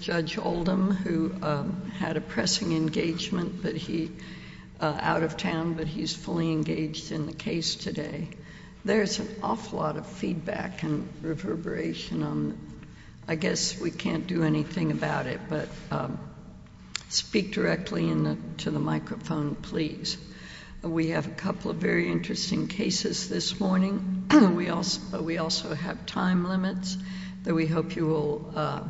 Judge Oldham, who had a pressing engagement out of town, but he's fully engaged in the case today. There's an awful lot of feedback and reverberation. I guess we can't do anything about it, but speak directly to the microphone, please. We have a couple of very interesting cases this morning. We also have time limits that we hope you will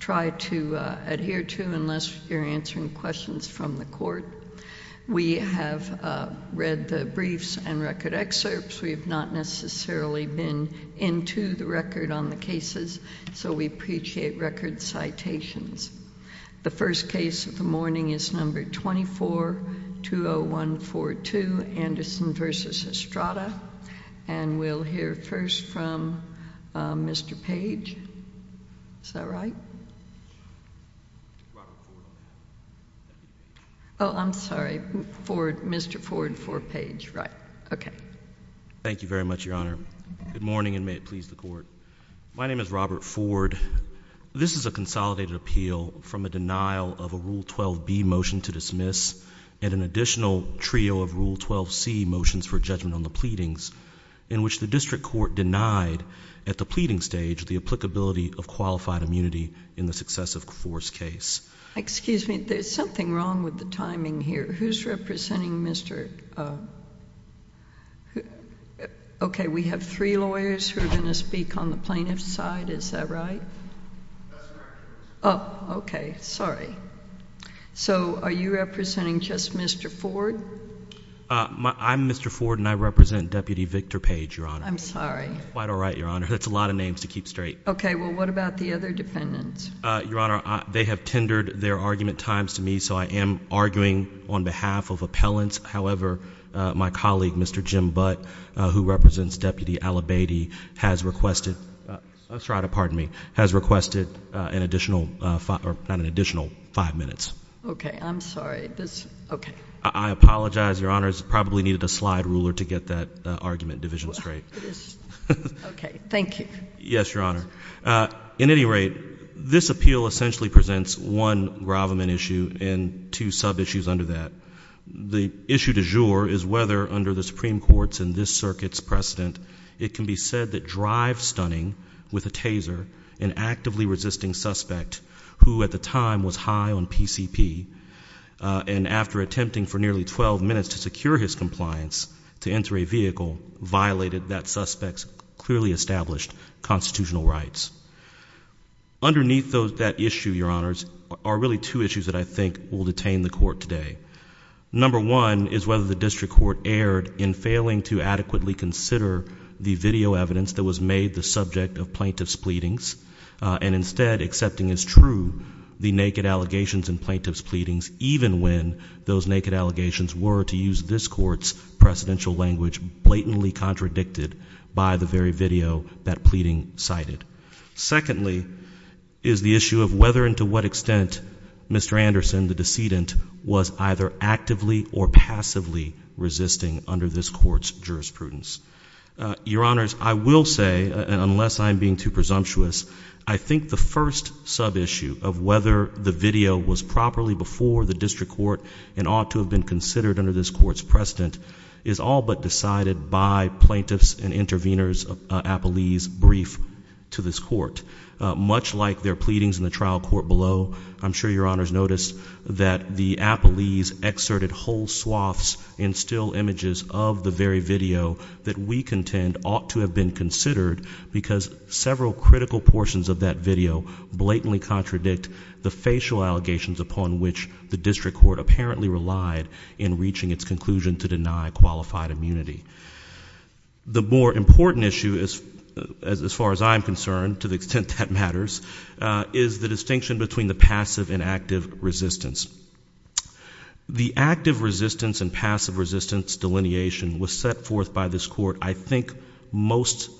try to adhere to, unless you're answering questions from the court. We have read the briefs and record excerpts. We have not necessarily been into the record on the cases, so we appreciate record citations. The first case of the morning is No. 24-20142, Anderson v. Estrada, and we'll hear first from Mr. Page. Is that right? Oh, I'm sorry, Mr. Ford for Page, right. Okay. Thank you very much, Your Honor. Good morning, and may it please the Court. My name is Robert from a denial of a Rule 12b motion to dismiss, and an additional trio of Rule 12c motions for judgment on the pleadings, in which the district court denied, at the pleading stage, the applicability of qualified immunity in the successive force case. Excuse me, there's something wrong with the timing here. Who's representing Mr.... Okay, we have three lawyers who are going to speak on the plaintiff's side. Is that right? That's correct, Your Honor. Oh, okay. Sorry. So, are you representing just Mr. Ford? I'm Mr. Ford, and I represent Deputy Victor Page, Your Honor. I'm sorry. That's quite all right, Your Honor. That's a lot of names to keep straight. Okay. Well, what about the other defendants? Your Honor, they have tendered their argument times to me, so I am arguing on behalf of appellants. However, my colleague, Mr. Jim Butt, who represents Deputy Ella Beatty, has requested... I'm sorry. Pardon me.... has requested an additional five minutes. Okay. I'm sorry. This... Okay. I apologize, Your Honor. I probably needed a slide ruler to get that argument division straight. Okay. Thank you. Yes, Your Honor. In any rate, this appeal essentially presents one gravamen issue and two sub-issues under that. The issue du jour is whether, under the Supreme Court's and this circuit's precedent, it can be said that Drive Stunning, with a taser, an actively resisting suspect who, at the time, was high on PCP, and after attempting for nearly twelve minutes to secure his compliance to enter a vehicle, violated that suspect's clearly established constitutional rights. Underneath that issue, Your Honors, are really two issues that I think will detain the Court today. Number one is whether the District Court erred in failing to adequately consider the video evidence that was made the subject of plaintiff's pleadings, and instead accepting as true the naked allegations in plaintiff's pleadings, even when those naked allegations were, to use this Court's precedential language, blatantly contradicted by the very video that pleading cited. Secondly, is the issue of whether and to what extent Mr. Anderson, the decedent, was either actively or passively resisting under this Court's jurisprudence. Your Honors, I will say, unless I'm being too presumptuous, I think the first sub-issue of whether the video was properly before the District Court and ought to have been considered under this Court's judgment was decided by plaintiff's and intervener's appellees' brief to this Court. Much like their pleadings in the trial court below, I'm sure Your Honors noticed that the appellees excerpted whole swaths in still images of the very video that we contend ought to have been considered because several critical portions of that video blatantly contradict the facial allegations upon which the District Court apparently relied in reaching its conclusion to deny qualified immunity. The more important issue, as far as I'm concerned, to the extent that matters, is the distinction between the passive and active resistance. The active resistance and passive resistance delineation was set forth by this Court, I think, most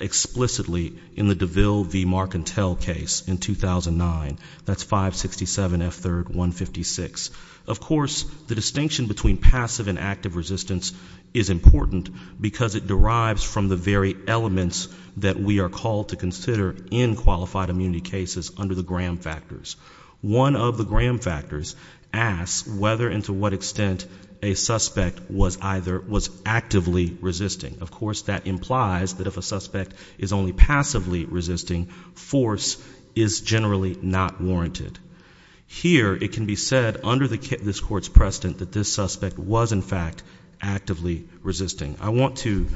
explicitly in the DeVille v. Marcantel case in 2009, that's 567 F. 3rd 156. Of course, the distinction between passive and active resistance is important because it derives from the very elements that we are called to consider in qualified immunity cases under the Graham factors. One of the Graham factors asks whether and to what extent a suspect was actively resisting. Of course, that implies that if a suspect is only passively resisting, force is generally not warranted. Here, it is, in fact, actively resisting. I want to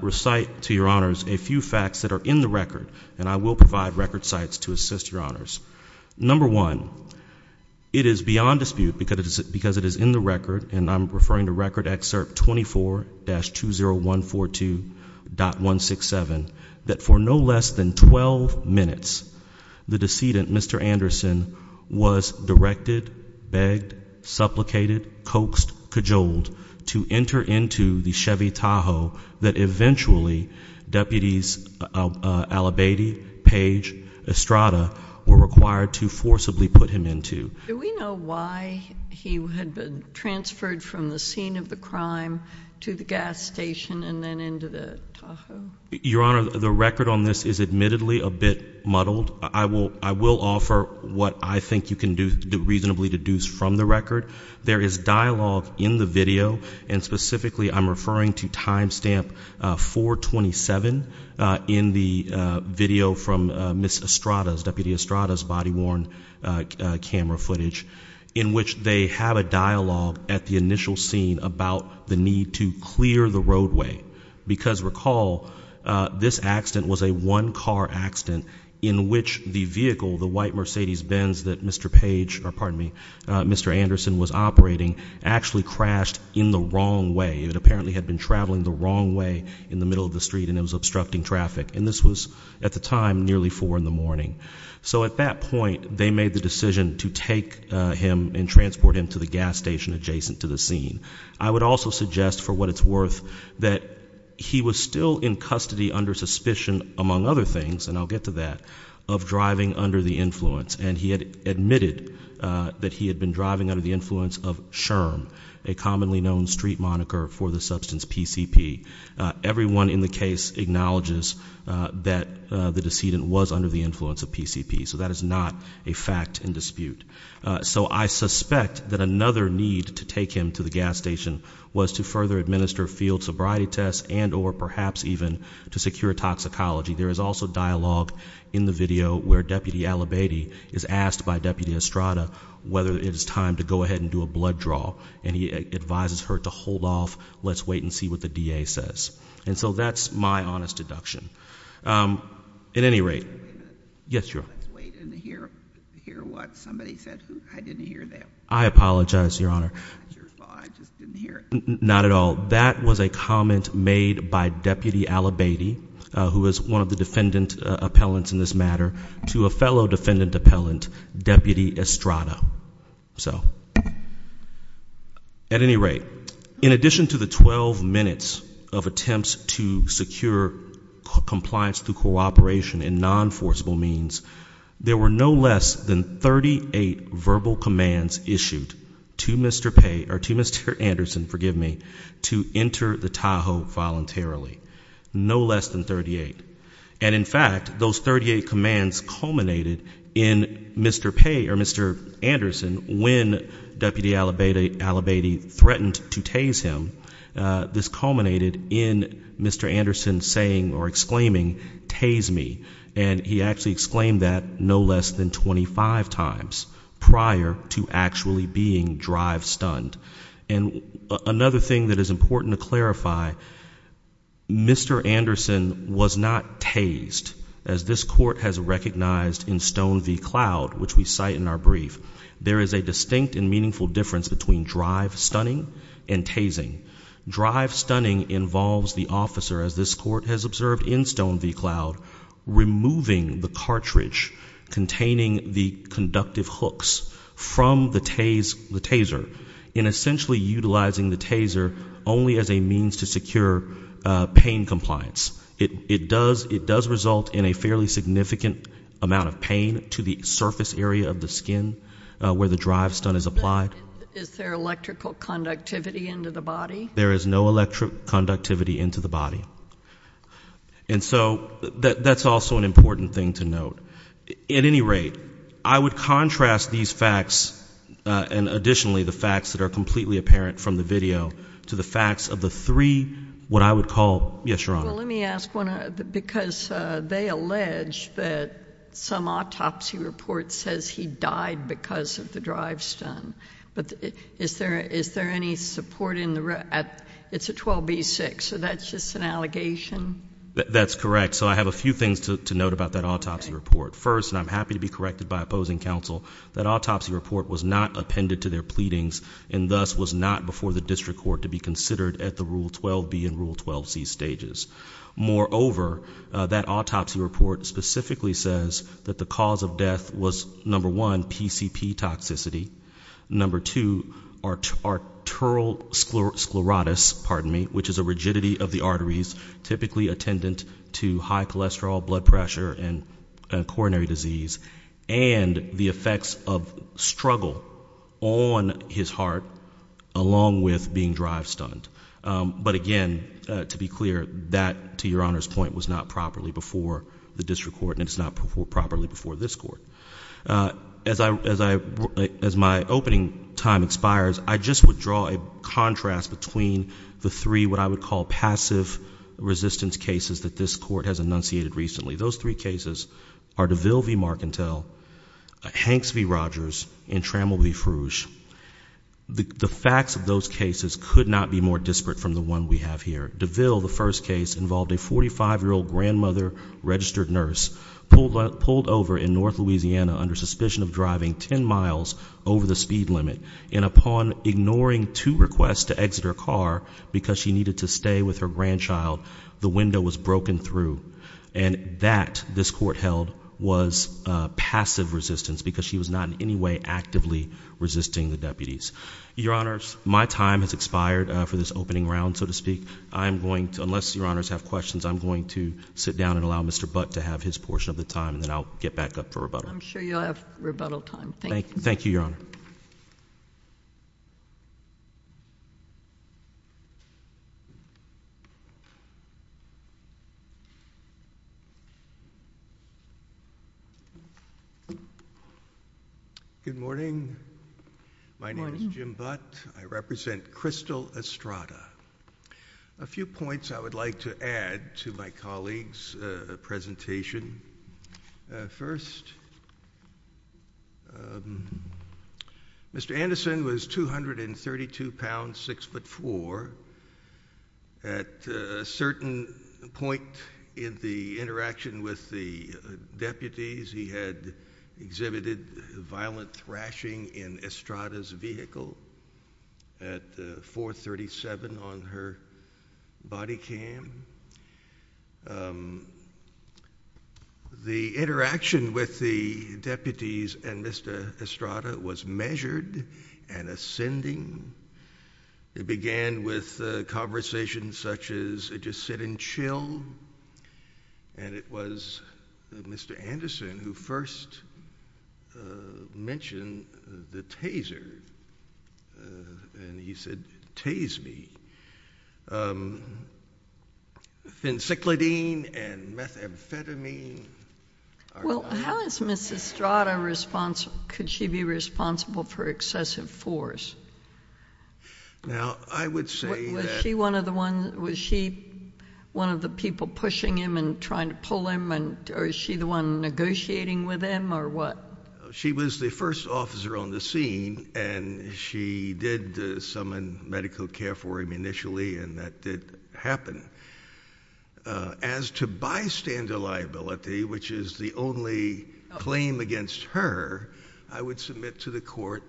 recite to Your Honors a few facts that are in the record, and I will provide record sites to assist Your Honors. Number one, it is beyond dispute because it is in the record, and I'm referring to Record Excerpt 24-20142.167, that for no less than 12 minutes, the decedent, Mr. Anderson, was to enter into the Chevy Tahoe that eventually Deputies Alibade, Page, Estrada were required to forcibly put him into. Do we know why he had been transferred from the scene of the crime to the gas station and then into the Tahoe? Your Honor, the record on this is admittedly a bit muddled. I will offer what I think you can reasonably deduce from the record. There is dialogue in the video, and specifically I'm referring to Timestamp 427 in the video from Ms. Estrada's, Deputy Estrada's body-worn camera footage, in which they have a dialogue at the initial scene about the need to clear the roadway because, recall, this accident was a one-car accident in which the vehicle, the white Mercedes Benz that Mr. Page, or pardon me, Mr. Anderson was operating, actually crashed in the wrong way. It apparently had been traveling the wrong way in the middle of the street, and it was obstructing traffic. And this was, at the time, nearly four in the morning. So at that point, they made the decision to take him and transport him to the gas station adjacent to the scene. I would also suggest, for what it's worth, that he was still in custody under suspicion, among other things, and I'll get to that, of driving under the influence. And he had admitted that he had been driving under the influence of SHRM, a commonly known street moniker for the substance PCP. Everyone in the case acknowledges that the decedent was under the influence of PCP. So that is not a fact in dispute. So I suspect that another need to take him to the gas station was to further administer field sobriety tests, and or perhaps even to secure toxicology. There is also dialogue in the video where Deputy Alibady is asked by Deputy Estrada whether it is time to go ahead and do a blood draw, and he advises her to hold off, let's wait and see what the DA says. And so that's my honest deduction. At any rate, yes, Your Honor. Let's wait and hear what somebody said. I didn't hear that. I apologize, Your Honor. I just didn't hear it. Not at all. That was a comment made by Deputy Alibady, who is one of the defendant appellants in this matter, to a fellow defendant appellant, Deputy Estrada. So at any rate, in addition to the 12 minutes of attempts to secure compliance through cooperation in non-enforceable means, there were no less than 38 verbal commands issued to Mr. Paye, or to Mr. Anderson, forgive me, to enter the Tahoe voluntarily. No less than 38. And in fact, those 38 commands culminated in Mr. Paye, or Mr. Anderson, when Deputy Alibady threatened to tase him, this culminated in Mr. Anderson saying or exclaiming, tase me. And he actually exclaimed that no less than 25 times prior to actually being drive stunned. And another thing that is important to clarify, Mr. Anderson was not tased, as this court has recognized in Stone v. Cloud, which we cite in our brief. There is a distinct and meaningful difference between drive stunning and tasing. Drive stunning involves the officer, as this court has observed in Stone v. Cloud, removing the cartridge containing the conductive hooks from the taser, and essentially utilizing the taser only as a means to secure pain compliance. It does result in a fairly significant amount of pain to the surface area of the skin where the drive stun is applied. Is there electrical conductivity into the body? There is no electrical conductivity into the body. And so, that's also an important thing to note. At any rate, I would contrast these facts, and additionally the facts that are completely apparent from the video, to the facts of the three, what I would call, yes, Your Honor. Well, let me ask one, because they allege that some autopsy report says he died because of the drive stun. But is there any support in the, it's a 12B6, so that's just an allegation? That's correct. So, I have a few things to note about that autopsy report. First, and I'm happy to be corrected by opposing counsel, that autopsy report was not appended to their pleadings, and thus was not before the district court to be considered at the Rule 12B and Rule 12C stages. Moreover, that autopsy report specifically says that the cause of death was, number one, PCP toxicity, number two, arterial sclerotis, pardon me, which is a rigidity of the arteries, typically attendant to high cholesterol, blood pressure, and coronary disease, and the effects of struggle on his heart, along with being drive stunned. But again, to be clear, that, to Your Honor's point, was not properly before the district court, and it's not properly before this court. As I, as I, as my opening time expires, I just would draw a contrast between the three, what I would call passive resistance cases that this court has enunciated recently. Those three cases are DeVille v. Marcantel, Hanks v. Rogers, and Trammell v. Frouge. The facts of those cases could not be more disparate from the one we have here. DeVille, the first case, involved a 45-year-old grandmother, registered nurse, pulled over in North Louisiana under suspicion of driving 10 miles over the speed limit, and upon ignoring two requests to exit her car because she needed to stay with her grandchild, the window was broken through. And that, this court held, was passive resistance because she was not in any way actively resisting the deputies. Your Honors, my time has expired for this opening round, so to speak. I'm going to, unless Your Honors have questions, I'm going to sit down and allow Mr. Butt to have his portion of the time, and then I'll get back up for rebuttal. I'm sure you'll have rebuttal time. Thank you, Your Honor. Good morning. My name is Jim Butt. I represent Crystal Estrada. A few points I would like to add to my colleague's presentation. First, Mr. Anderson was 232 pounds, 6 foot 4. At a certain point in the interaction with the deputies, he had exhibited violent thrashing in Estrada's vehicle at 437 on her body cam. The interaction with the deputies and Mr. Estrada was measured and ascending. It began with conversations such as, just sit and chill. And it was Mr. Anderson who first mentioned the taser. And he said, tase me. Fensiclidene and methamphetamine. Well, how is Mrs. Estrada responsible, could she be responsible for excessive force? Was she one of the people pushing him and trying to pull him, or is she the one negotiating with him, or what? She was the first officer on the scene, and she did summon medical care for him initially, and that did happen. As to bystander liability, which is the only claim against her, I would submit to the court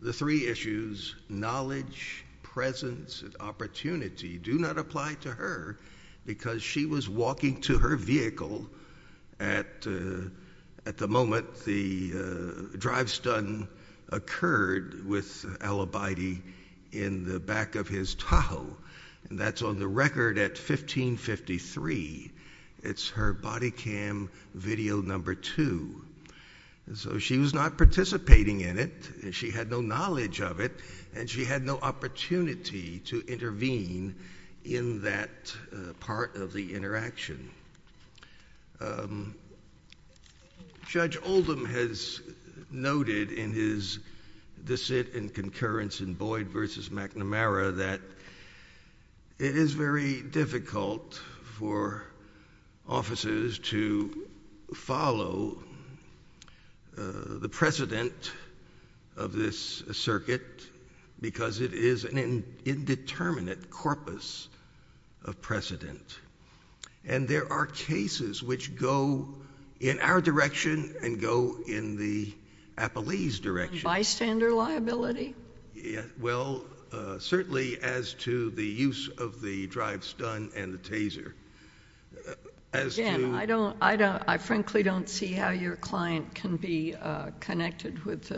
the three issues, knowledge, presence, and opportunity, do not apply to her, because she was walking to her vehicle at the moment the drive-stun occurred with Al-Abidi in the back of his Tahoe, and that's on the record at 1553. It's her body cam video number two. So she was not participating in it, and she had no knowledge of it, and she had no opportunity to intervene in that part of the interaction. Judge Oldham has noted in his dissent and concurrence in Boyd v. McNamara that it is very difficult for officers to follow the precedent of this circuit, because it is an indeterminate corpus of precedent, and there are cases which go in our direction and go in the appellee's direction. Bystander liability? Well, certainly as to the use of the drive-stun and the taser. Again, I frankly don't see how your client can be connected with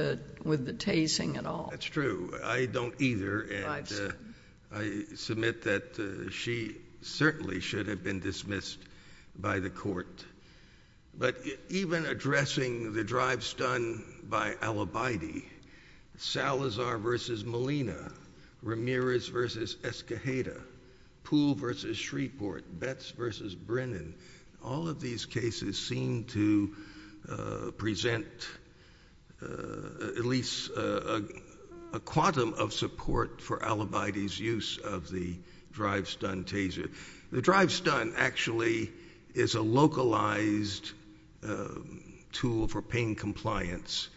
the tasing at all. That's true. I don't either, and I submit that she certainly should have been dismissed by the court. But even addressing the drive-stun by Al-Abidi, Salazar v. Molina, Ramirez v. Escajeda, Poole v. Shreeport, Betts v. Brennan, all of these cases seem to present at least a quantum of support for Al-Abidi's use of the drive-stun taser. The drive-stun actually is a localized tool for pain compliance,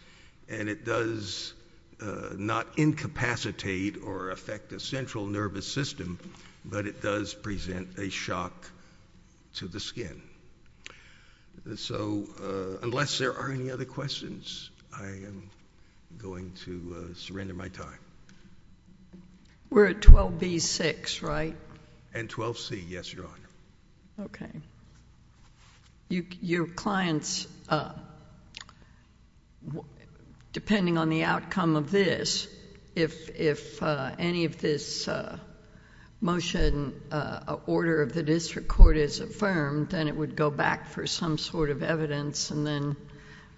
and it does not incapacitate or affect the central nervous system, but it does present a shock to the skin. So unless there are any other questions, I am going to surrender my time. We're at 12B-6, right? And 12C, yes, Your Honor. Okay. Your clients, depending on the outcome of this, if any of this motion, order of the district court is affirmed, then it would go back for some sort of evidence, and then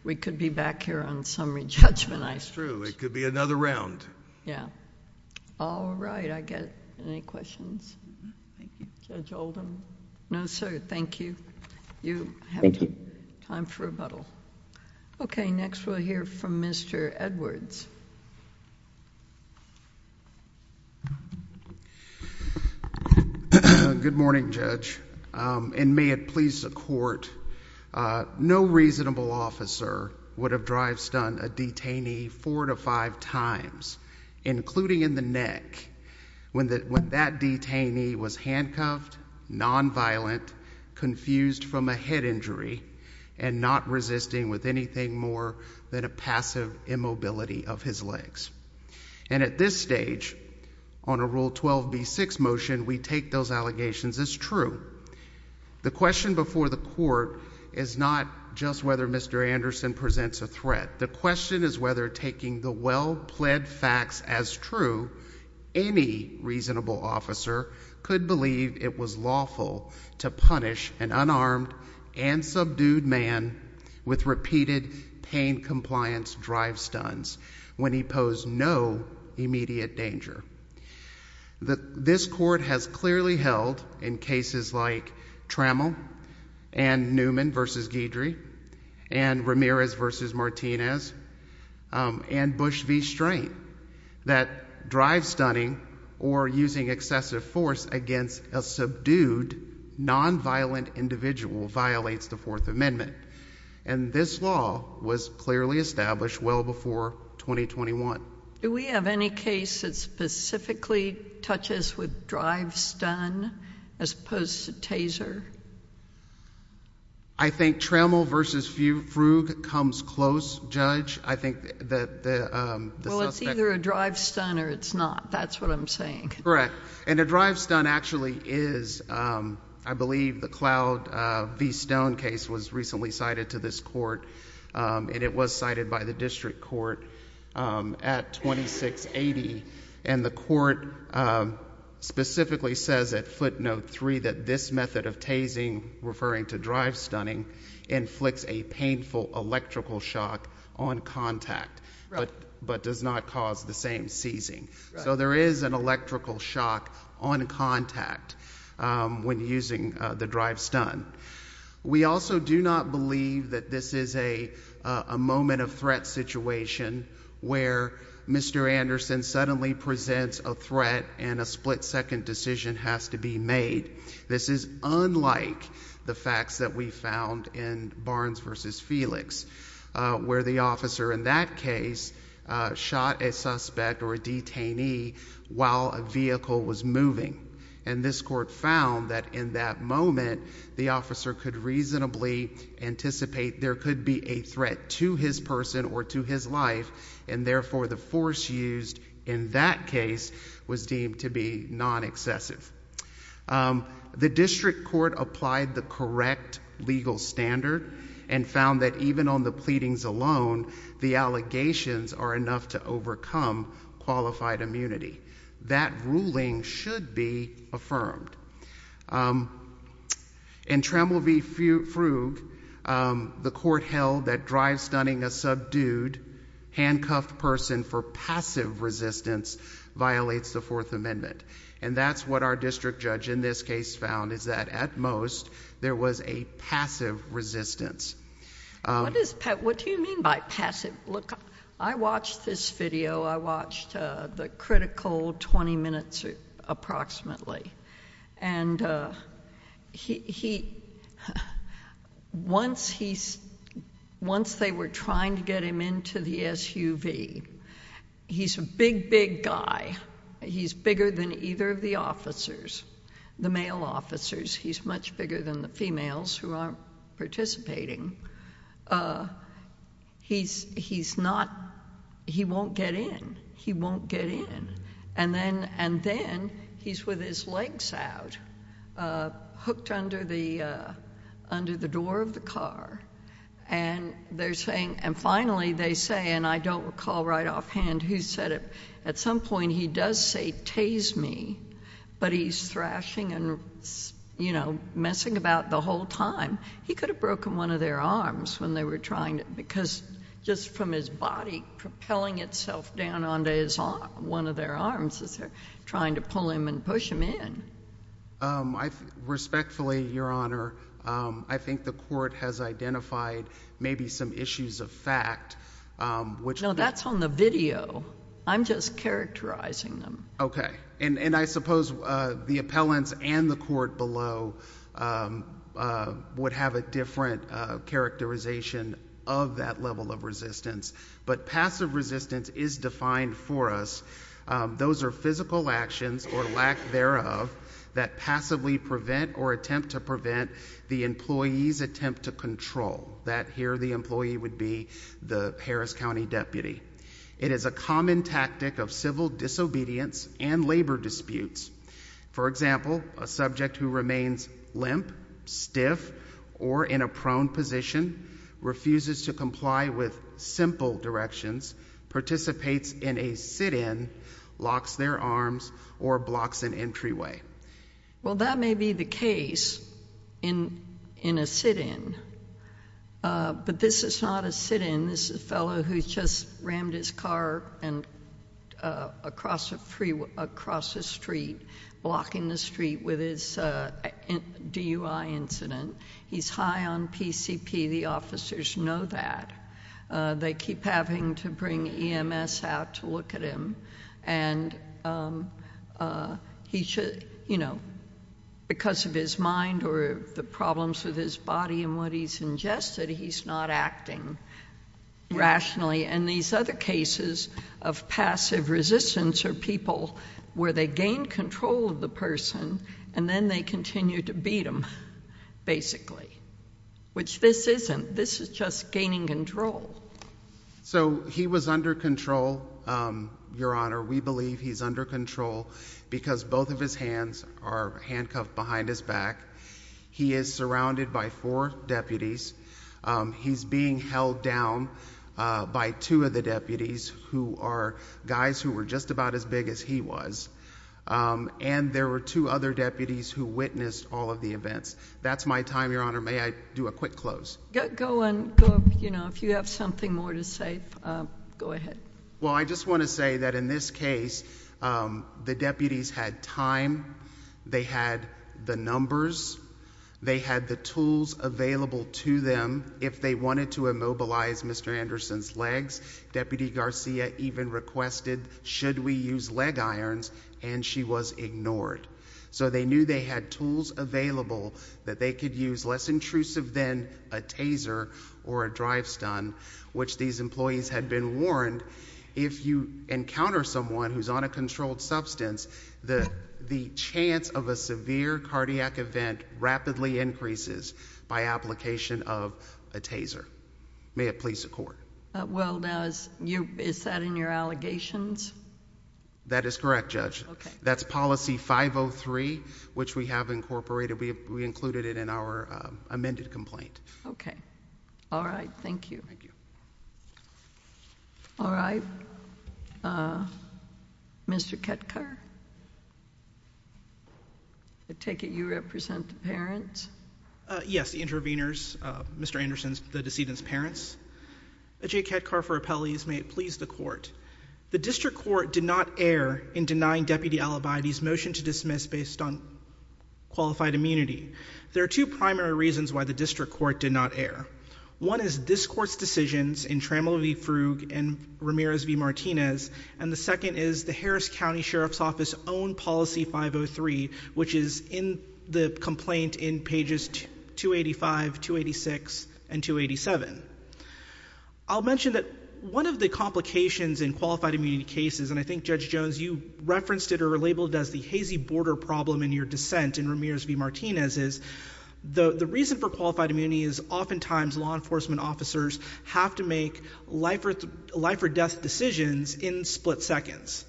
we could be back here on summary judgment. That's true. It could be another round. Yeah. All right. I get any questions. Judge Oldham? No, sir. Thank you. You have time for rebuttal. Okay. Next, we'll hear from Mr. Edwards. Good morning, Judge, and may it please the Court. No reasonable officer would have drive-stunned a detainee four to five times, including in the neck, when that detainee was handcuffed, nonviolent, confused from a head injury, and not resisting with anything more than a passive immobility of his legs. And at this stage, on a Rule 12B-6 motion, we take those allegations as true. The question before the Court is not just whether Mr. Anderson presents a threat. The question is whether, taking the well-pled facts as true, any reasonable officer could believe it was lawful to punish an unarmed and subdued man with repeated pain-compliance drive-stuns when he posed no immediate danger. This Court has clearly held, in cases like Trammell and Newman v. Guidry and Ramirez v. Martinez and Bush v. Strain, that drive-stunning or using excessive force against a subdued, nonviolent individual violates the Fourth Amendment. And this law was clearly established well before 2021. Do we have any case that specifically touches with drive-stun as opposed to taser? I think Trammell v. Frug comes close, Judge. I think that the suspect... Well, it's either a drive-stun or it's not. That's what I'm saying. Correct. And a drive-stun actually is, I believe the Cloud v. Stone case was recently cited to this Court, and it was cited by the District Court at 2680, and the Court specifically says at footnote 3 that this method of tasing, referring to drive-stunning, inflicts a painful electrical shock on contact, but does not cause the same seizing. So there is an electrical shock on contact when using the drive-stun. We also do not believe that this is a moment of threat situation where Mr. Anderson suddenly presents a threat and a split-second decision has to be made. This is unlike the facts that we found in Barnes v. Felix, where the officer in that case shot a suspect or a detainee while a vehicle was moving. And this Court found that in that moment, the officer could reasonably anticipate there could be a threat to his person or to his life, and therefore the force used in that case was deemed to be non-excessive. The District Court applied the correct legal standard and found that even on the pleadings alone, the allegations are enough to overcome qualified immunity. That ruling should be affirmed. In Trammell v. Frug, the Court held that drive-stunning a subdued, handcuffed person for passive resistance violates the Fourth Amendment. And that's what our District Judge in this case found, is that at most, there was a passive resistance. What do you mean by passive? I watched this video. I watched the critical 20 minutes approximately. And once they were trying to get him into the SUV, he's a big, big guy. He's bigger than either of the officers, the male officers. He's much bigger than the females who aren't participating. He's not, he won't get in. He won't get in. And then, he's with his legs out, hooked under the door of the car. And they're saying, and finally they say, and I don't recall right offhand who said it, at some point he does say, tase me, but he's thrashing and, you know, messing about the whole time. He could have broken one of their arms when they were trying to, because just from his body propelling itself down onto one of their arms as they're trying to pull him and push him in. Respectfully, Your Honor, I think the court has identified maybe some issues of fact, which No, that's on the video. I'm just characterizing them. Okay. And I suppose the appellants and the court below would have a different characterization of that level of resistance. But passive resistance is defined for us. Those are physical actions or lack thereof that passively prevent or attempt to prevent the employee's attempt to control. That here, the employee would be the Harris County deputy. It is a common tactic of civil disobedience and labor disputes. For example, a subject who remains limp, stiff, or in a prone position, refuses to comply with simple directions, participates in a sit-in, locks their arms, or blocks an entryway. Well, that may be the case in a sit-in. But this is not a sit-in. This is a fellow who just rammed his car across the street, blocking the street with his DUI incident. He's high on PCP. The officers know that. They keep having to bring EMS out to look at him. And because of his mind or the problems with his body and what he's ingested, he's not acting rationally. And these other cases of passive resistance are people where they gain control of the person and then they continue to beat him, basically, which this isn't. This is just gaining control. So he was under control, Your Honor. We believe he's under control because both of his hands are handcuffed behind his back. He is surrounded by four deputies. He's being held down by two of the deputies who are guys who were just about as big as he was. And there were two other deputies who witnessed all of the events. That's my time, Your Honor. May I do a quick close? Go on. You know, if you have something more to say, go ahead. Well, I just want to say that in this case, the deputies had time. They had the numbers. They had the tools available to them if they wanted to immobilize Mr. Anderson's legs. Deputy Garcia even requested, should we use leg irons? And she was ignored. So they knew they had tools available that they could use less intrusive than a taser or a drive stun, which these employees had been warned. If you encounter someone who's on a controlled substance, the chance of a severe cardiac event rapidly increases by application of a taser. May it please the court. Well, now, is that in your allegations? That is correct, Judge. That's policy 503, which we have incorporated. We included it in our amended complaint. Okay. All right. Thank you. All right. Mr. Ketker? I take it you represent the parents? Yes, the intervenors, Mr. Anderson's, the decedent's parents. J. Ketker for appellees. May it please the court. The district court did not err in denying Deputy Alibide's motion to dismiss based on qualified immunity. There are two primary reasons why the district court did not err. One is this court's decisions in Trammell v. Frugge and Ramirez v. Martinez, and the second is the Harris County Sheriff's Office's own policy 503, which is in the complaint in pages 285, 286, and 287. I'll mention that one of the complications in qualified immunity cases, and I think Judge Jones, you referenced it or labeled it as the hazy border problem in your dissent in Ramirez v. Martinez, is the reason for qualified immunity is oftentimes law enforcement officers have to make life or death decisions in split seconds.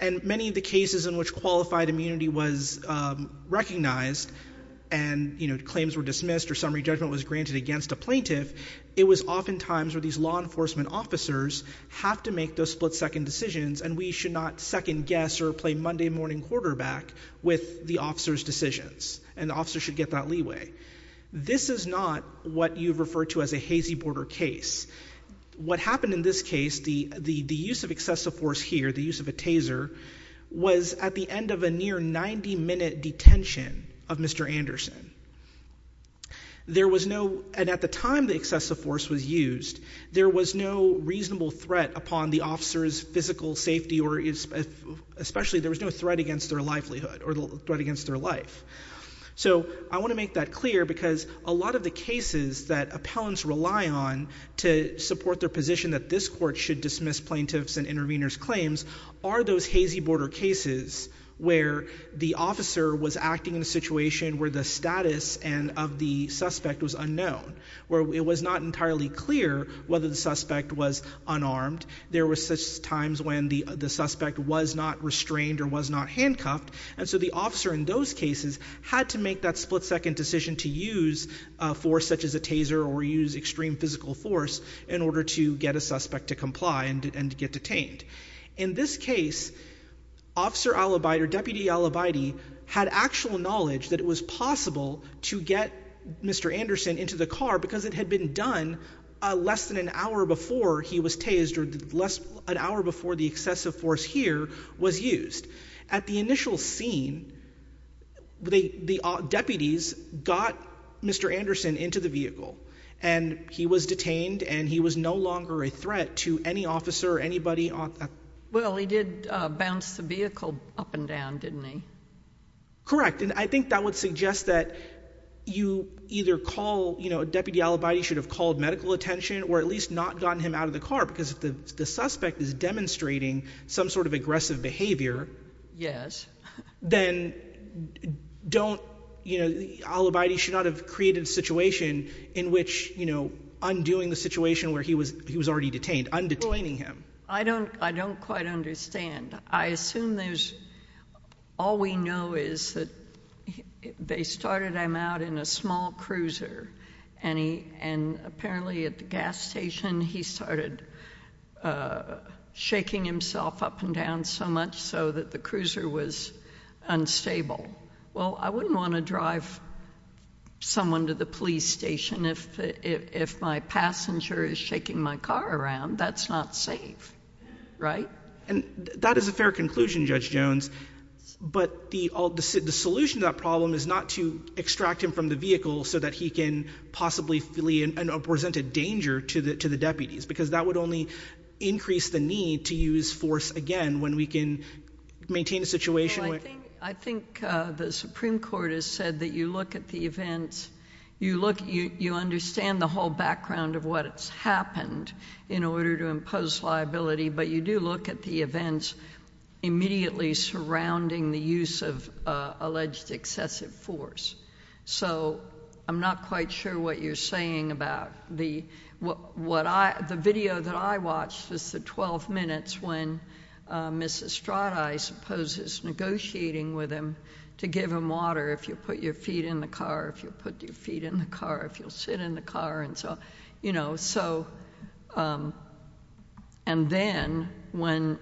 And many of the cases in which qualified immunity was recognized and claims were dismissed or summary judgment was granted against a plaintiff, it was oftentimes where these law enforcement officers have to make those split second decisions and we should not second guess or play Monday morning quarterback with the officer's decisions. And the officer should get that leeway. This is not what you refer to as a hazy border case. What happened in this case, the use of excessive force here, the use of a taser, was at the end of a near 90 minute detention of Mr. Anderson. There was no, and at the time the excessive force was used, there was no reasonable threat upon the officer's physical safety or especially there was no threat against their livelihood or threat against their life. So I want to make that clear because a lot of the cases that appellants rely on to support their position that this court should dismiss plaintiffs and interveners claims are those hazy border cases where the officer was acting in a situation where the status and of the suspect was unknown, where it was not entirely clear whether the suspect was unarmed. There were such times when the suspect was not restrained or was not handcuffed. And so the officer in those cases had to make that split second decision to use a force such as a taser or use extreme physical force in order to get a suspect to comply and to get detained. In this case, Officer Alibide or Deputy Alibide had actual knowledge that it was possible to get Mr. Anderson into the car because it had been done less than an hour before he was tased or an hour before the excessive force here was used. At the initial scene, the deputies got Mr. Anderson into the vehicle and he was detained and he was no longer a threat to any officer or anybody. Well, he did bounce the vehicle up and down, didn't he? Correct. And I think that would suggest that you either call, you know, Deputy Alibide should have called medical attention or at least not gotten him out of the car because the suspect is demonstrating some sort of aggressive behavior, then don't, you know, Alibide should not have created a situation in which, you know, undoing the situation where he was already detained, undetaining him. I don't quite understand. I assume there's, all we know is that they started him out in a small cruiser and apparently at the gas station he started shaking himself up and down so much so that the cruiser was unstable. Well, I wouldn't want to drive someone to the police station if my passenger is shaking my car around. That's not safe, right? And that is a fair conclusion, Judge Jones, but the solution to that problem is not to extract him from the vehicle so that he can possibly present a danger to the deputies because that would only increase the need to use force again when we can maintain a situation where— I think the Supreme Court has said that you look at the events, you understand the whole background of what's happened in order to impose liability, but you do look at the events immediately surrounding the use of alleged excessive force. So I'm not quite sure what you're saying about the—the video that I watched is the 12 minutes when Mrs. Stradi, I suppose, is negotiating with him to give him water if you put your feet in the car, if you put your feet in the car, if you'll sit in the car, and so on. You know, so—and then when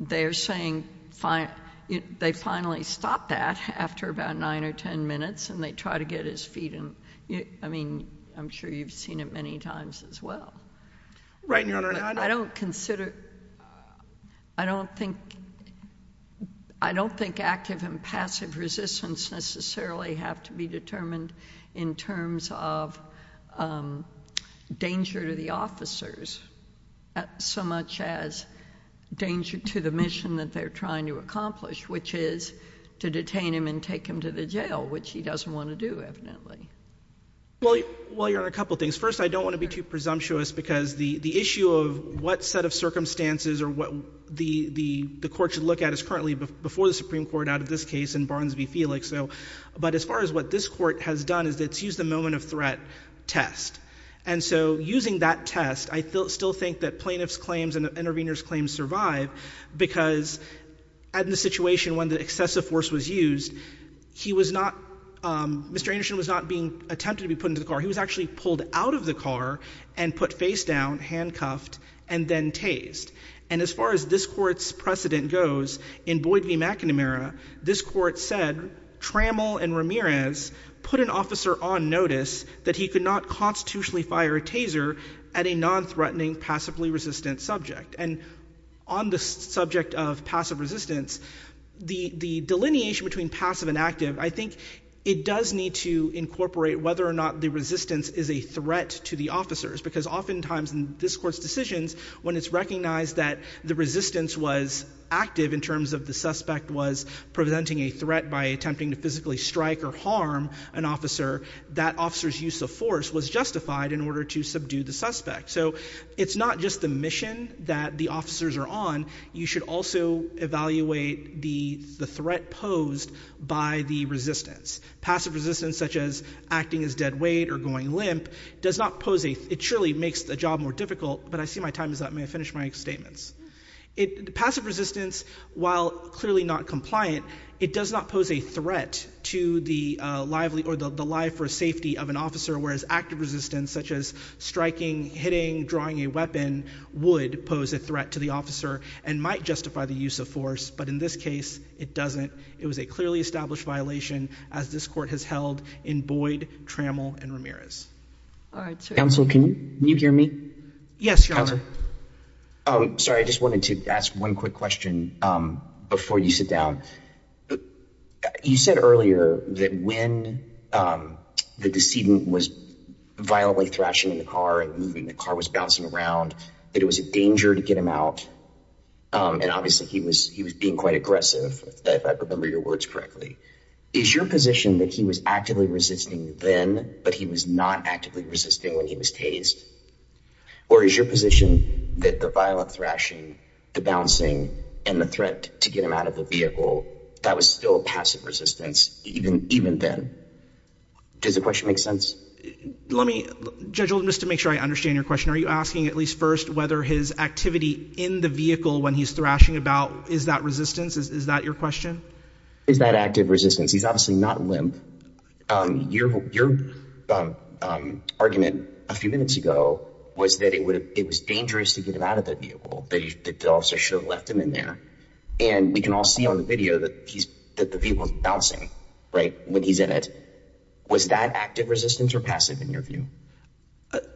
they're saying—they finally stop that after about 9 or 10 minutes and they try to get his feet in—I mean, I'm sure you've seen it many times as well. Right, Your Honor, I don't— I don't consider—I don't think—I don't think active and passive resistance necessarily have to be determined in terms of danger to the officers so much as danger to the mission that they're trying to accomplish, which is to detain him and take him to the jail, which he doesn't want to do, evidently. Well, Your Honor, a couple of things. First, I don't want to be too presumptuous because the issue of what set of circumstances or what the court should look at is currently before the Supreme Court out of this case in Barnes v. Felix, so—but as far as what this court has done is it's used the moment of threat test. And so using that test, I still think that plaintiff's claims and the intervener's claims survive because in the situation when the excessive force was used, he was not—Mr. Anderson was not being attempted to be put into the car. He was actually pulled out of the car and put face down, handcuffed, and then tased. And as far as this court's precedent goes, in Boyd v. McNamara, this court said Trammell and Ramirez put an officer on notice that he could not constitutionally fire a taser at a nonthreatening, passively resistant subject. And on the subject of passive resistance, the delineation between passive and active, I think it does need to incorporate whether or not the resistance is a threat to the officers because oftentimes in this court's decisions, when it's recognized that the resistance was active in terms of the suspect was presenting a threat by attempting to physically strike or harm an officer, that officer's use of force was justified in order to subdue the suspect. So it's not just the mission that the officers are on. You should also evaluate the threat posed by the resistance. Passive resistance, such as acting as dead weight or going limp, surely makes the job more difficult. But I see my time is up. May I finish my statements? Passive resistance, while clearly not compliant, it does not pose a threat to the life or safety of an officer. Whereas active resistance, such as striking, hitting, drawing a weapon, would pose a threat to the officer and might justify the use of force. But in this case, it doesn't. It was a clearly established violation as this court has held in Boyd, Trammell, and All right. Counsel, can you hear me? Yes, Your Honor. Counsel? Oh, sorry. I just wanted to ask one quick question before you sit down. You said earlier that when the decedent was violently thrashing the car and moving, the car was bouncing around, that it was a danger to get him out. And obviously, he was being quite aggressive, if I remember your words correctly. Is your position that he was actively resisting then, but he was not actively resisting when he was tased? Or is your position that the violent thrashing, the bouncing, and the threat to get him out of the vehicle, that was still passive resistance even then? Does the question make sense? Let me, Judge Oldham, just to make sure I understand your question, are you asking at least first whether his activity in the vehicle when he's thrashing about, is that resistance? Is that your question? Is that active resistance? He's obviously not limp. Your argument a few minutes ago was that it was dangerous to get him out of the vehicle, that they also should have left him in there. And we can all see on the video that the vehicle is bouncing, right, when he's in it. Was that active resistance or passive in your view?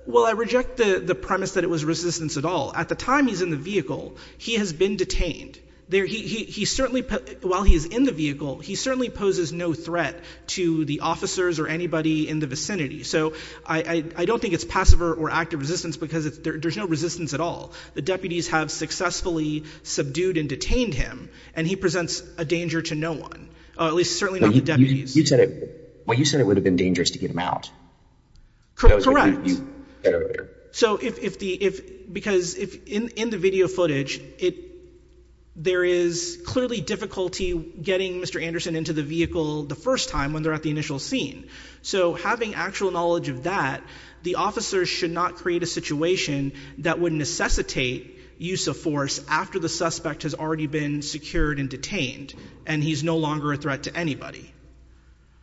Well, I reject the premise that it was resistance at all. At the time he's in the vehicle, he has been detained. He certainly, while he's in the vehicle, he certainly poses no threat to the officers or anybody in the vicinity. So I don't think it's passive or active resistance because there's no resistance at all. The deputies have successfully subdued and detained him, and he presents a danger to no one. At least certainly not the deputies. You said it would have been dangerous to get him out. Correct. So if, because in the video footage, there is clearly difficulty getting Mr. Anderson into the vehicle the first time when they're at the initial scene. So having actual knowledge of that, the officers should not create a situation that would necessitate use of force after the suspect has already been secured and detained, and he's no longer a threat to anybody.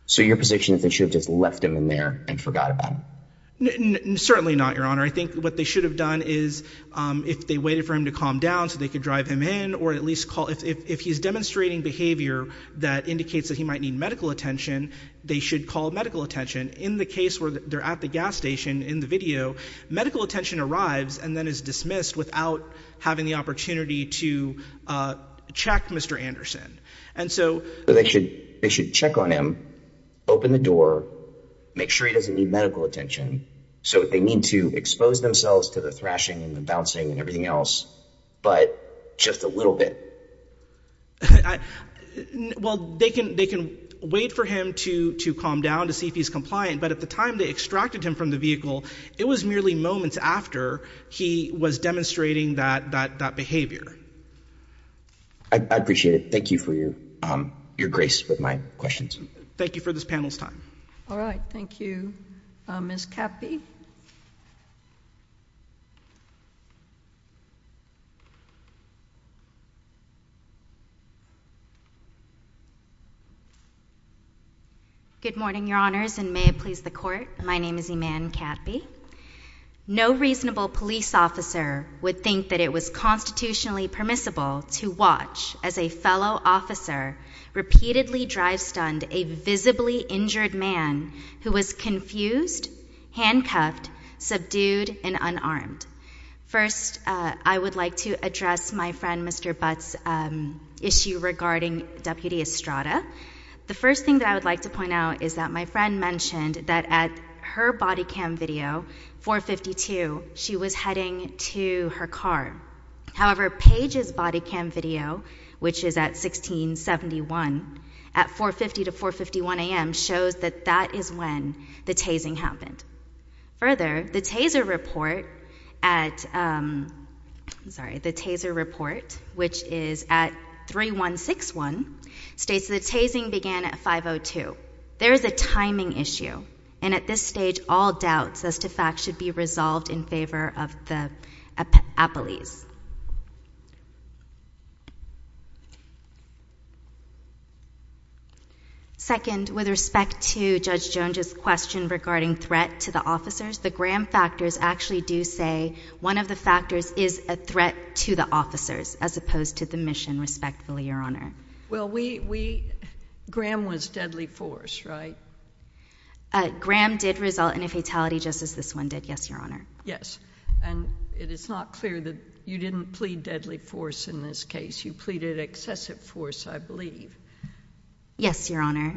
So your position is they should have just left him in there and forgot about him? Certainly not, Your Honor. I think what they should have done is if they waited for him to calm down so they could drive him in, or at least call, if he's demonstrating behavior that indicates that he might need medical attention, they should call medical attention. In the case where they're at the gas station in the video, medical attention arrives and then is dismissed without having the opportunity to check Mr. Anderson. So they should check on him, open the door, make sure he doesn't need medical attention. So they need to expose themselves to the thrashing and the bouncing and everything else, but just a little bit. Well, they can wait for him to calm down to see if he's compliant, but at the time they extracted him from the vehicle, it was merely moments after he was demonstrating that behavior. I appreciate it. Thank you for your grace with my questions. Thank you for this panel's time. All right. Thank you. Ms. Catby? Good morning, Your Honors, and may it please the Court. My name is Iman Catby. No reasonable police officer would think that it was constitutionally permissible to watch as a fellow officer repeatedly drive-stunned a visibly injured man who was confused, handcuffed, subdued and unarmed. First, I would like to address my friend Mr. Butt's issue regarding Deputy Estrada. The first thing that I would like to point out is that my friend mentioned that at her body cam video, 452, she was heading to her car. However, Page's body cam video, which is at 1671, at 4.50 to 4.51 a.m., shows that that is when the tasing happened. Further, the taser report at, sorry, the taser report, which is at 3.161, states the tasing began at 5.02. There is a timing issue, and at this stage, all doubts as to facts should be resolved in favor of the appellees. Second, with respect to Judge Jones' question regarding threat to the officers, the Graham factors actually do say one of the factors is a threat to the officers as opposed to the mission, respectfully, Your Honor. Well, we, we, Graham was deadly force, right? Graham did result in a fatality just as this one did, yes, Your Honor. Yes. And it is not clear that you didn't plead deadly force in this case. You pleaded excessive force, I believe. Yes, Your Honor.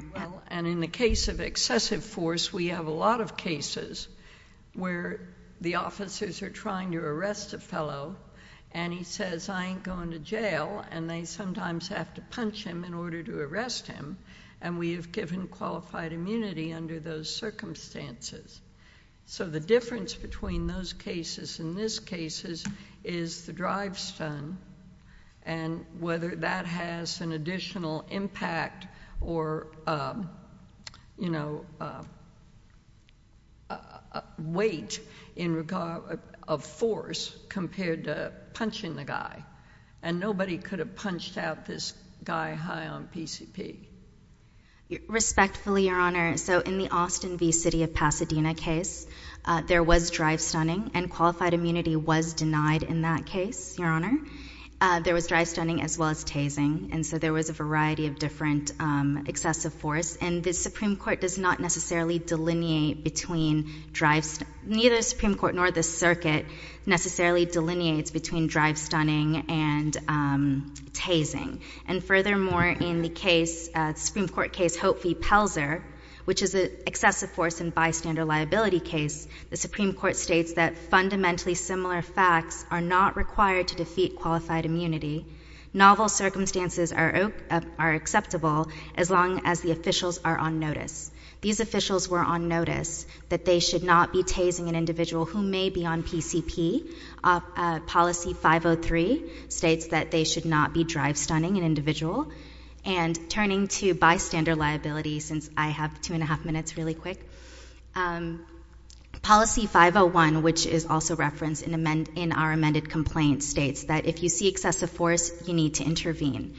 And in the case of excessive force, we have a lot of cases where the officers are trying to arrest a fellow, and he says, I ain't going to jail, and they sometimes have to punch him in order to arrest him, and we have given qualified immunity under those circumstances. So, the difference between those cases and this case is, is the drive stun, and whether that has an additional impact or, you know, weight in regard, of force compared to punching the guy, and nobody could have punched out this guy high on PCP. Respectfully, Your Honor, so in the Austin v. City of Pasadena case, there was drive stunning, and qualified immunity was denied in that case, Your Honor. There was drive stunning as well as tasing, and so there was a variety of different excessive force, and the Supreme Court does not necessarily delineate between drive, neither the Supreme Court nor the circuit necessarily delineates between drive stunning and tasing. And furthermore, in the case, Supreme Court case Hope v. Pelzer, which is an excessive force and bystander liability case, the Supreme Court states that fundamentally similar facts are not required to defeat qualified immunity. Novel circumstances are acceptable as long as the officials are on notice. These officials were on notice that they should not be tasing an individual who may be on drive stunning, an individual, and turning to bystander liability, since I have two and a half minutes really quick. Policy 501, which is also referenced in our amended complaint, states that if you see excessive force, you need to intervene.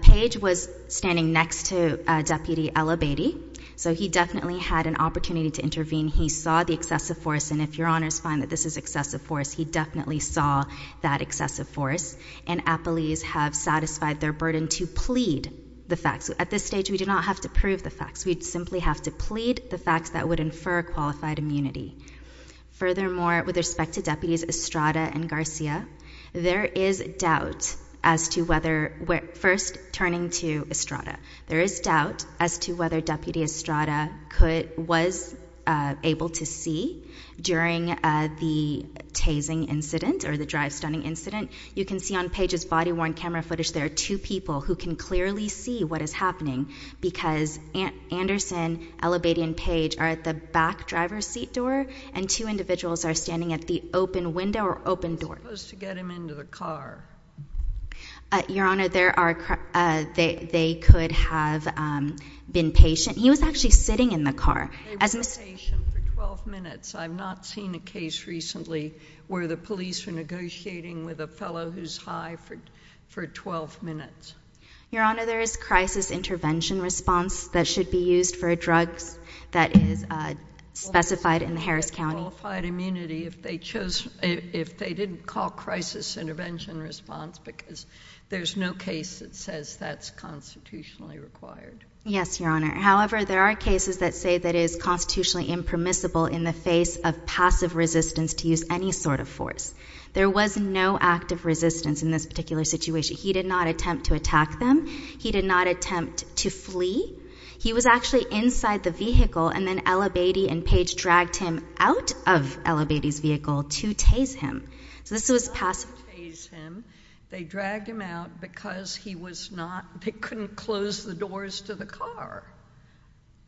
Page was standing next to Deputy El Abadi, so he definitely had an opportunity to intervene. He saw the excessive force, and if Your Honor's find that this is excessive force, he definitely saw that excessive force. And appellees have satisfied their burden to plead the facts. At this stage, we do not have to prove the facts. We simply have to plead the facts that would infer qualified immunity. Furthermore, with respect to Deputies Estrada and Garcia, there is doubt as to whether, first turning to Estrada, there is doubt as to whether Deputy Estrada could, was able to see during the tasing incident, or the drive stunning incident. You can see on Page's body-worn camera footage, there are two people who can clearly see what is happening, because Anderson, El Abadi, and Page are at the back driver's seat door, and two individuals are standing at the open window or open door. You're supposed to get him into the car. Your Honor, there are, they could have been patient. He was actually sitting in the car. He was a patient for 12 minutes. I've not seen a case recently where the police were negotiating with a fellow who's high for 12 minutes. Your Honor, there is crisis intervention response that should be used for a drug that is specified in the Harris County. Qualified immunity, if they chose, if they didn't call crisis intervention response, because there's no case that says that's constitutionally required. Yes, Your Honor. However, there are cases that say that it is constitutionally impermissible in the face of passive resistance to use any sort of force. There was no act of resistance in this particular situation. He did not attempt to attack them. He did not attempt to flee. He was actually inside the vehicle, and then El Abadi and Page dragged him out of El Abadi's vehicle to tase him. So this was passive tase him. They dragged him out because he was not, they couldn't close the doors to the car.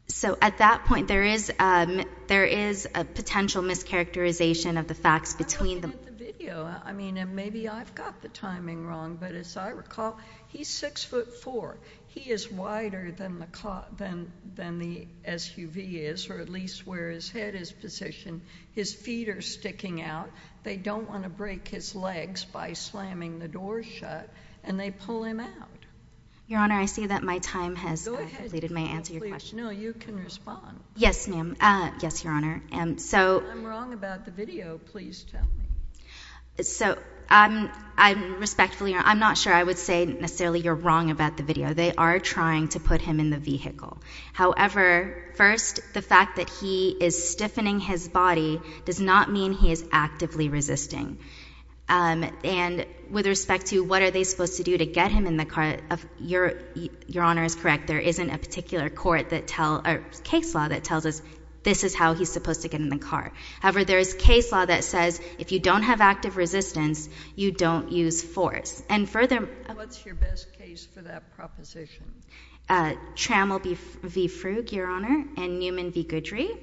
So at that point, there is a potential mischaracterization of the facts between the- I looked at the video. I mean, and maybe I've got the timing wrong, but as I recall, he's six foot four. He is wider than the SUV is, or at least where his head is positioned. His feet are sticking out. They don't want to break his legs by slamming the door shut, and they pull him out. Your Honor, I see that my time has- Go ahead. Please. No, you can respond. Yes, ma'am. Yes, Your Honor. And so- If I'm wrong about the video, please tell me. So I'm respectfully, I'm not sure I would say necessarily you're wrong about the video. They are trying to put him in the vehicle. However, first, the fact that he is stiffening his body does not mean he is actively resisting. And with respect to what are they supposed to do to get him in the car, Your Honor is correct. There isn't a particular court that tell, or case law that tells us this is how he's supposed to get in the car. However, there is case law that says if you don't have active resistance, you don't use force. And further- What's your best case for that proposition? Trammell v. Frug, Your Honor, and Newman v. Goodry.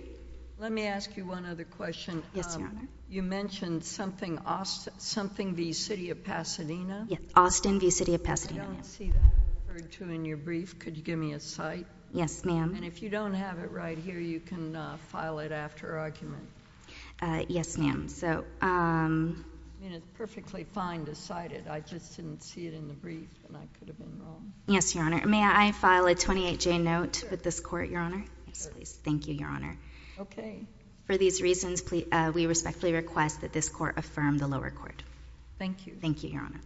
Let me ask you one other question. Yes, Your Honor. You mentioned something, Austin, something v. City of Pasadena. Yes, Austin v. City of Pasadena. I don't see that referred to in your brief. Could you give me a cite? Yes, ma'am. And if you don't have it right here, you can file it after argument. Yes, ma'am. So- I mean, it's perfectly fine to cite it. I just didn't see it in the brief, and I could have been wrong. Yes, Your Honor. Thank you, Your Honor. May I file a 28-J note with this court, Your Honor? Yes, please. Thank you, Your Honor. Okay. For these reasons, we respectfully request that this court affirm the lower court. Thank you. Thank you, Your Honor.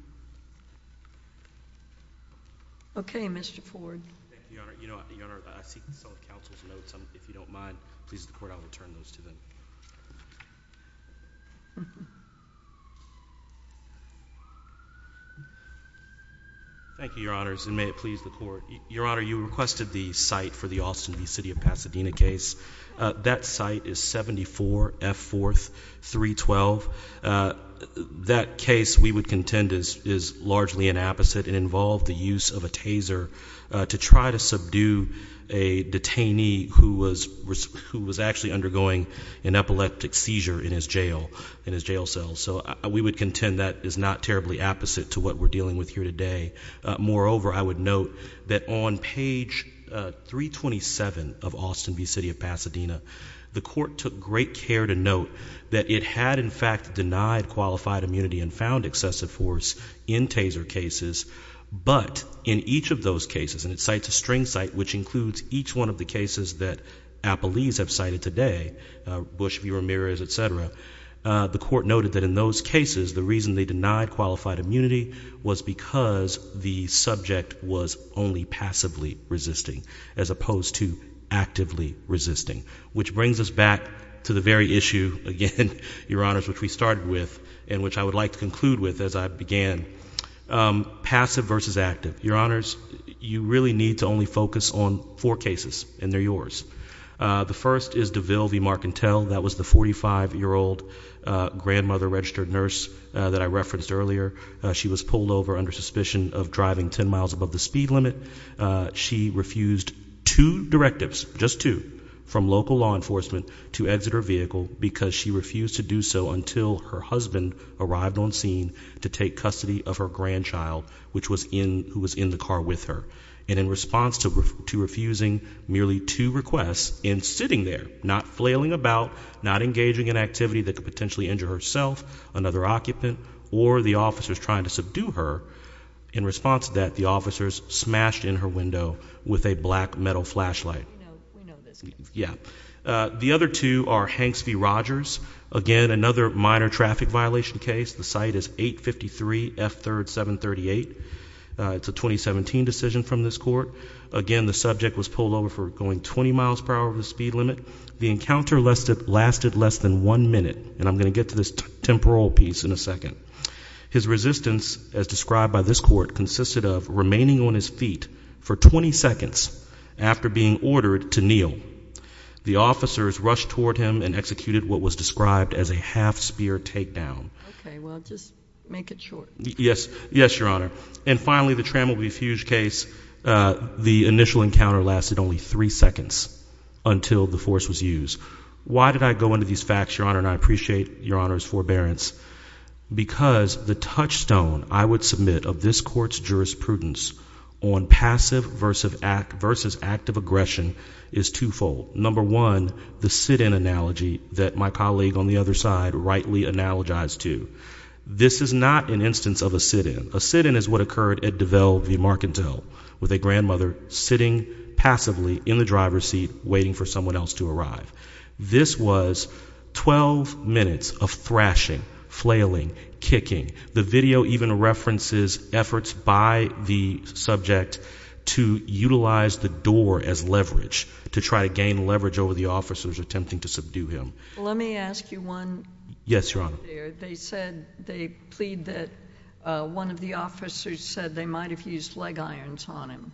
Okay. Mr. Ford. Thank you, Your Honor. Your Honor, I seek the counsel's notes. If you don't mind, please, the court, I will return those to them. Thank you, Your Honors, and may it please the court. Your Honor, you requested the cite for the Austin v. City of Pasadena case. That cite is 74 F. 4th 312. That case, we would contend, is largely an apposite. It involved the use of a taser to try to subdue a detainee who was actually undergoing an epileptic seizure in his jail cell. So we would contend that is not terribly opposite to what we're dealing with here today. Moreover, I would note that on page 327 of Austin v. City of Pasadena, the court took great care to note that it had, in fact, denied qualified immunity and found excessive force in taser cases, but in each of those cases, and it cites a string cite which includes each one of the cases that appellees have cited today, Bush v. Ramirez, et cetera, the court noted that in those cases, the reason they denied qualified immunity was because the subject was only passively resisting as opposed to actively resisting, which brings us back to the very issue, again, Your Honors, which we started with and which I would like to conclude with as I began. Passive versus active. Your Honors, you really need to only focus on four cases, and they're yours. The first is DeVille v. Marcantel. That was the 45-year-old grandmother registered nurse that I referenced earlier. She was pulled over under suspicion of driving 10 miles above the speed limit. She refused two directives, just two, from local law enforcement to exit her vehicle because she refused to do so until her husband arrived on scene to take custody of her grandchild, who was in the car with her. In response to refusing merely two requests and sitting there, not flailing about, not engaging in activity that could potentially injure herself, another occupant, or the officers trying to subdue her, in response to that, the officers smashed in her window with a black metal flashlight. The other two are Hanks v. Rogers. Again, another minor traffic violation case. The site is 853 F 3rd 738. It's a 2017 decision from this court. Again, the subject was pulled over for going 20 miles per hour over the speed limit. The encounter lasted less than one minute, and I'm going to get to this temporal piece in a second. His resistance, as described by this court, consisted of remaining on his feet for 20 seconds after being ordered to kneel. The officers rushed toward him and executed what was described as a half-spear takedown. Okay. Well, just make it short. Yes. Yes, Your Honor. And finally, the Trammell v. Fuge case. The initial encounter lasted only three seconds until the force was used. Why did I go into these facts, Your Honor, and I appreciate Your Honor's forbearance? Because the touchstone I would submit of this court's jurisprudence on passive versus active aggression is twofold. Number one, the sit-in analogy that my colleague on the other side rightly analogized to. This is not an instance of a sit-in. A sit-in is what occurred at DeVelle v. Marcantel with a grandmother sitting passively in the driver's seat waiting for someone else to arrive. This was 12 minutes of thrashing, flailing, kicking. The video even references efforts by the subject to utilize the door as leverage to try to gain leverage over the officers attempting to subdue him. Let me ask you one thing. Yes, Your Honor. They said, they plead that one of the officers said they might have used leg irons on him.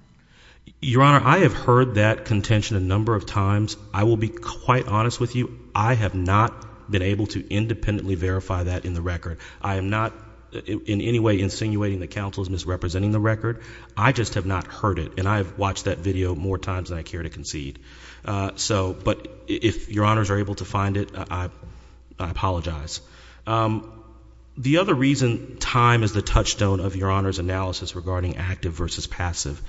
Your Honor, I have heard that contention a number of times. I will be quite honest with you, I have not been able to independently verify that in the record. I am not in any way insinuating that counsel is misrepresenting the record. I just have not heard it and I have watched that video more times than I care to concede. But if Your Honors are able to find it, I apologize. The other reason time is the touchstone of Your Honor's analysis regarding active versus passive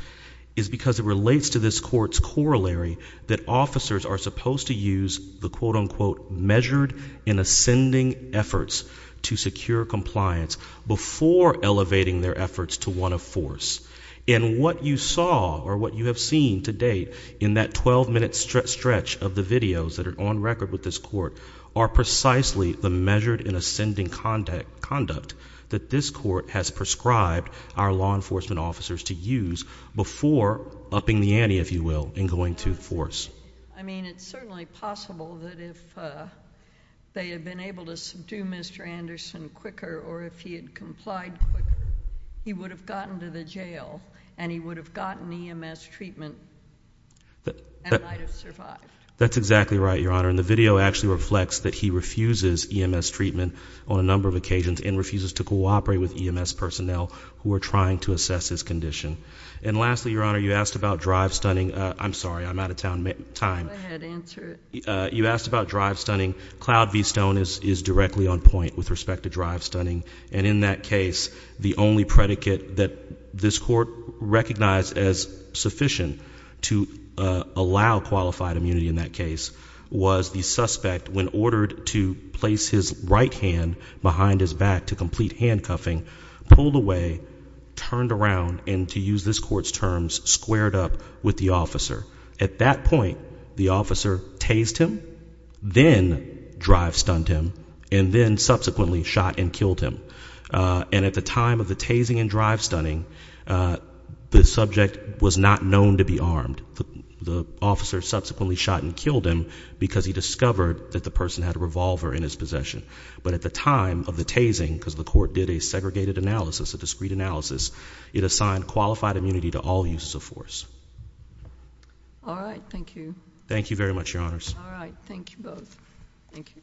is because it relates to this court's corollary that officers are supposed to use the quote-unquote measured and ascending efforts to secure compliance before elevating their efforts to one of force. What you saw or what you have seen to date in that twelve-minute stretch of the videos that are on record with this court are precisely the measured and ascending conduct that this court has prescribed our law enforcement officers to use before upping the ante, if you will, in going to force. I mean, it's certainly possible that if they had been able to subdue Mr. Anderson quicker or if he had complied quicker, he would have gotten to the jail and he would have gotten EMS treatment and might have survived. That's exactly right, Your Honor. And the video actually reflects that he refuses EMS treatment on a number of occasions and refuses to cooperate with EMS personnel who are trying to assess his condition. And lastly, Your Honor, you asked about drive stunning. I'm sorry. I'm out of time. Go ahead. Answer it. You asked about drive stunning. Cloud V. Stone is directly on point with respect to drive stunning. And in that case, the only predicate that this court recognized as sufficient to allow qualified immunity in that case was the suspect, when ordered to place his right hand behind his back to complete handcuffing, pulled away, turned around, and to use this court's terms, squared up with the officer. At that point, the officer tased him, then drive stunned him, and then subsequently shot and killed him. And at the time of the tasing and drive stunning, the subject was not known to be armed. The officer subsequently shot and killed him because he discovered that the person had a revolver in his possession. But at the time of the tasing, because the court did a segregated analysis, a discrete All right. Thank you. Thank you very much, Your Honors. All right. Thank you both. Thank you.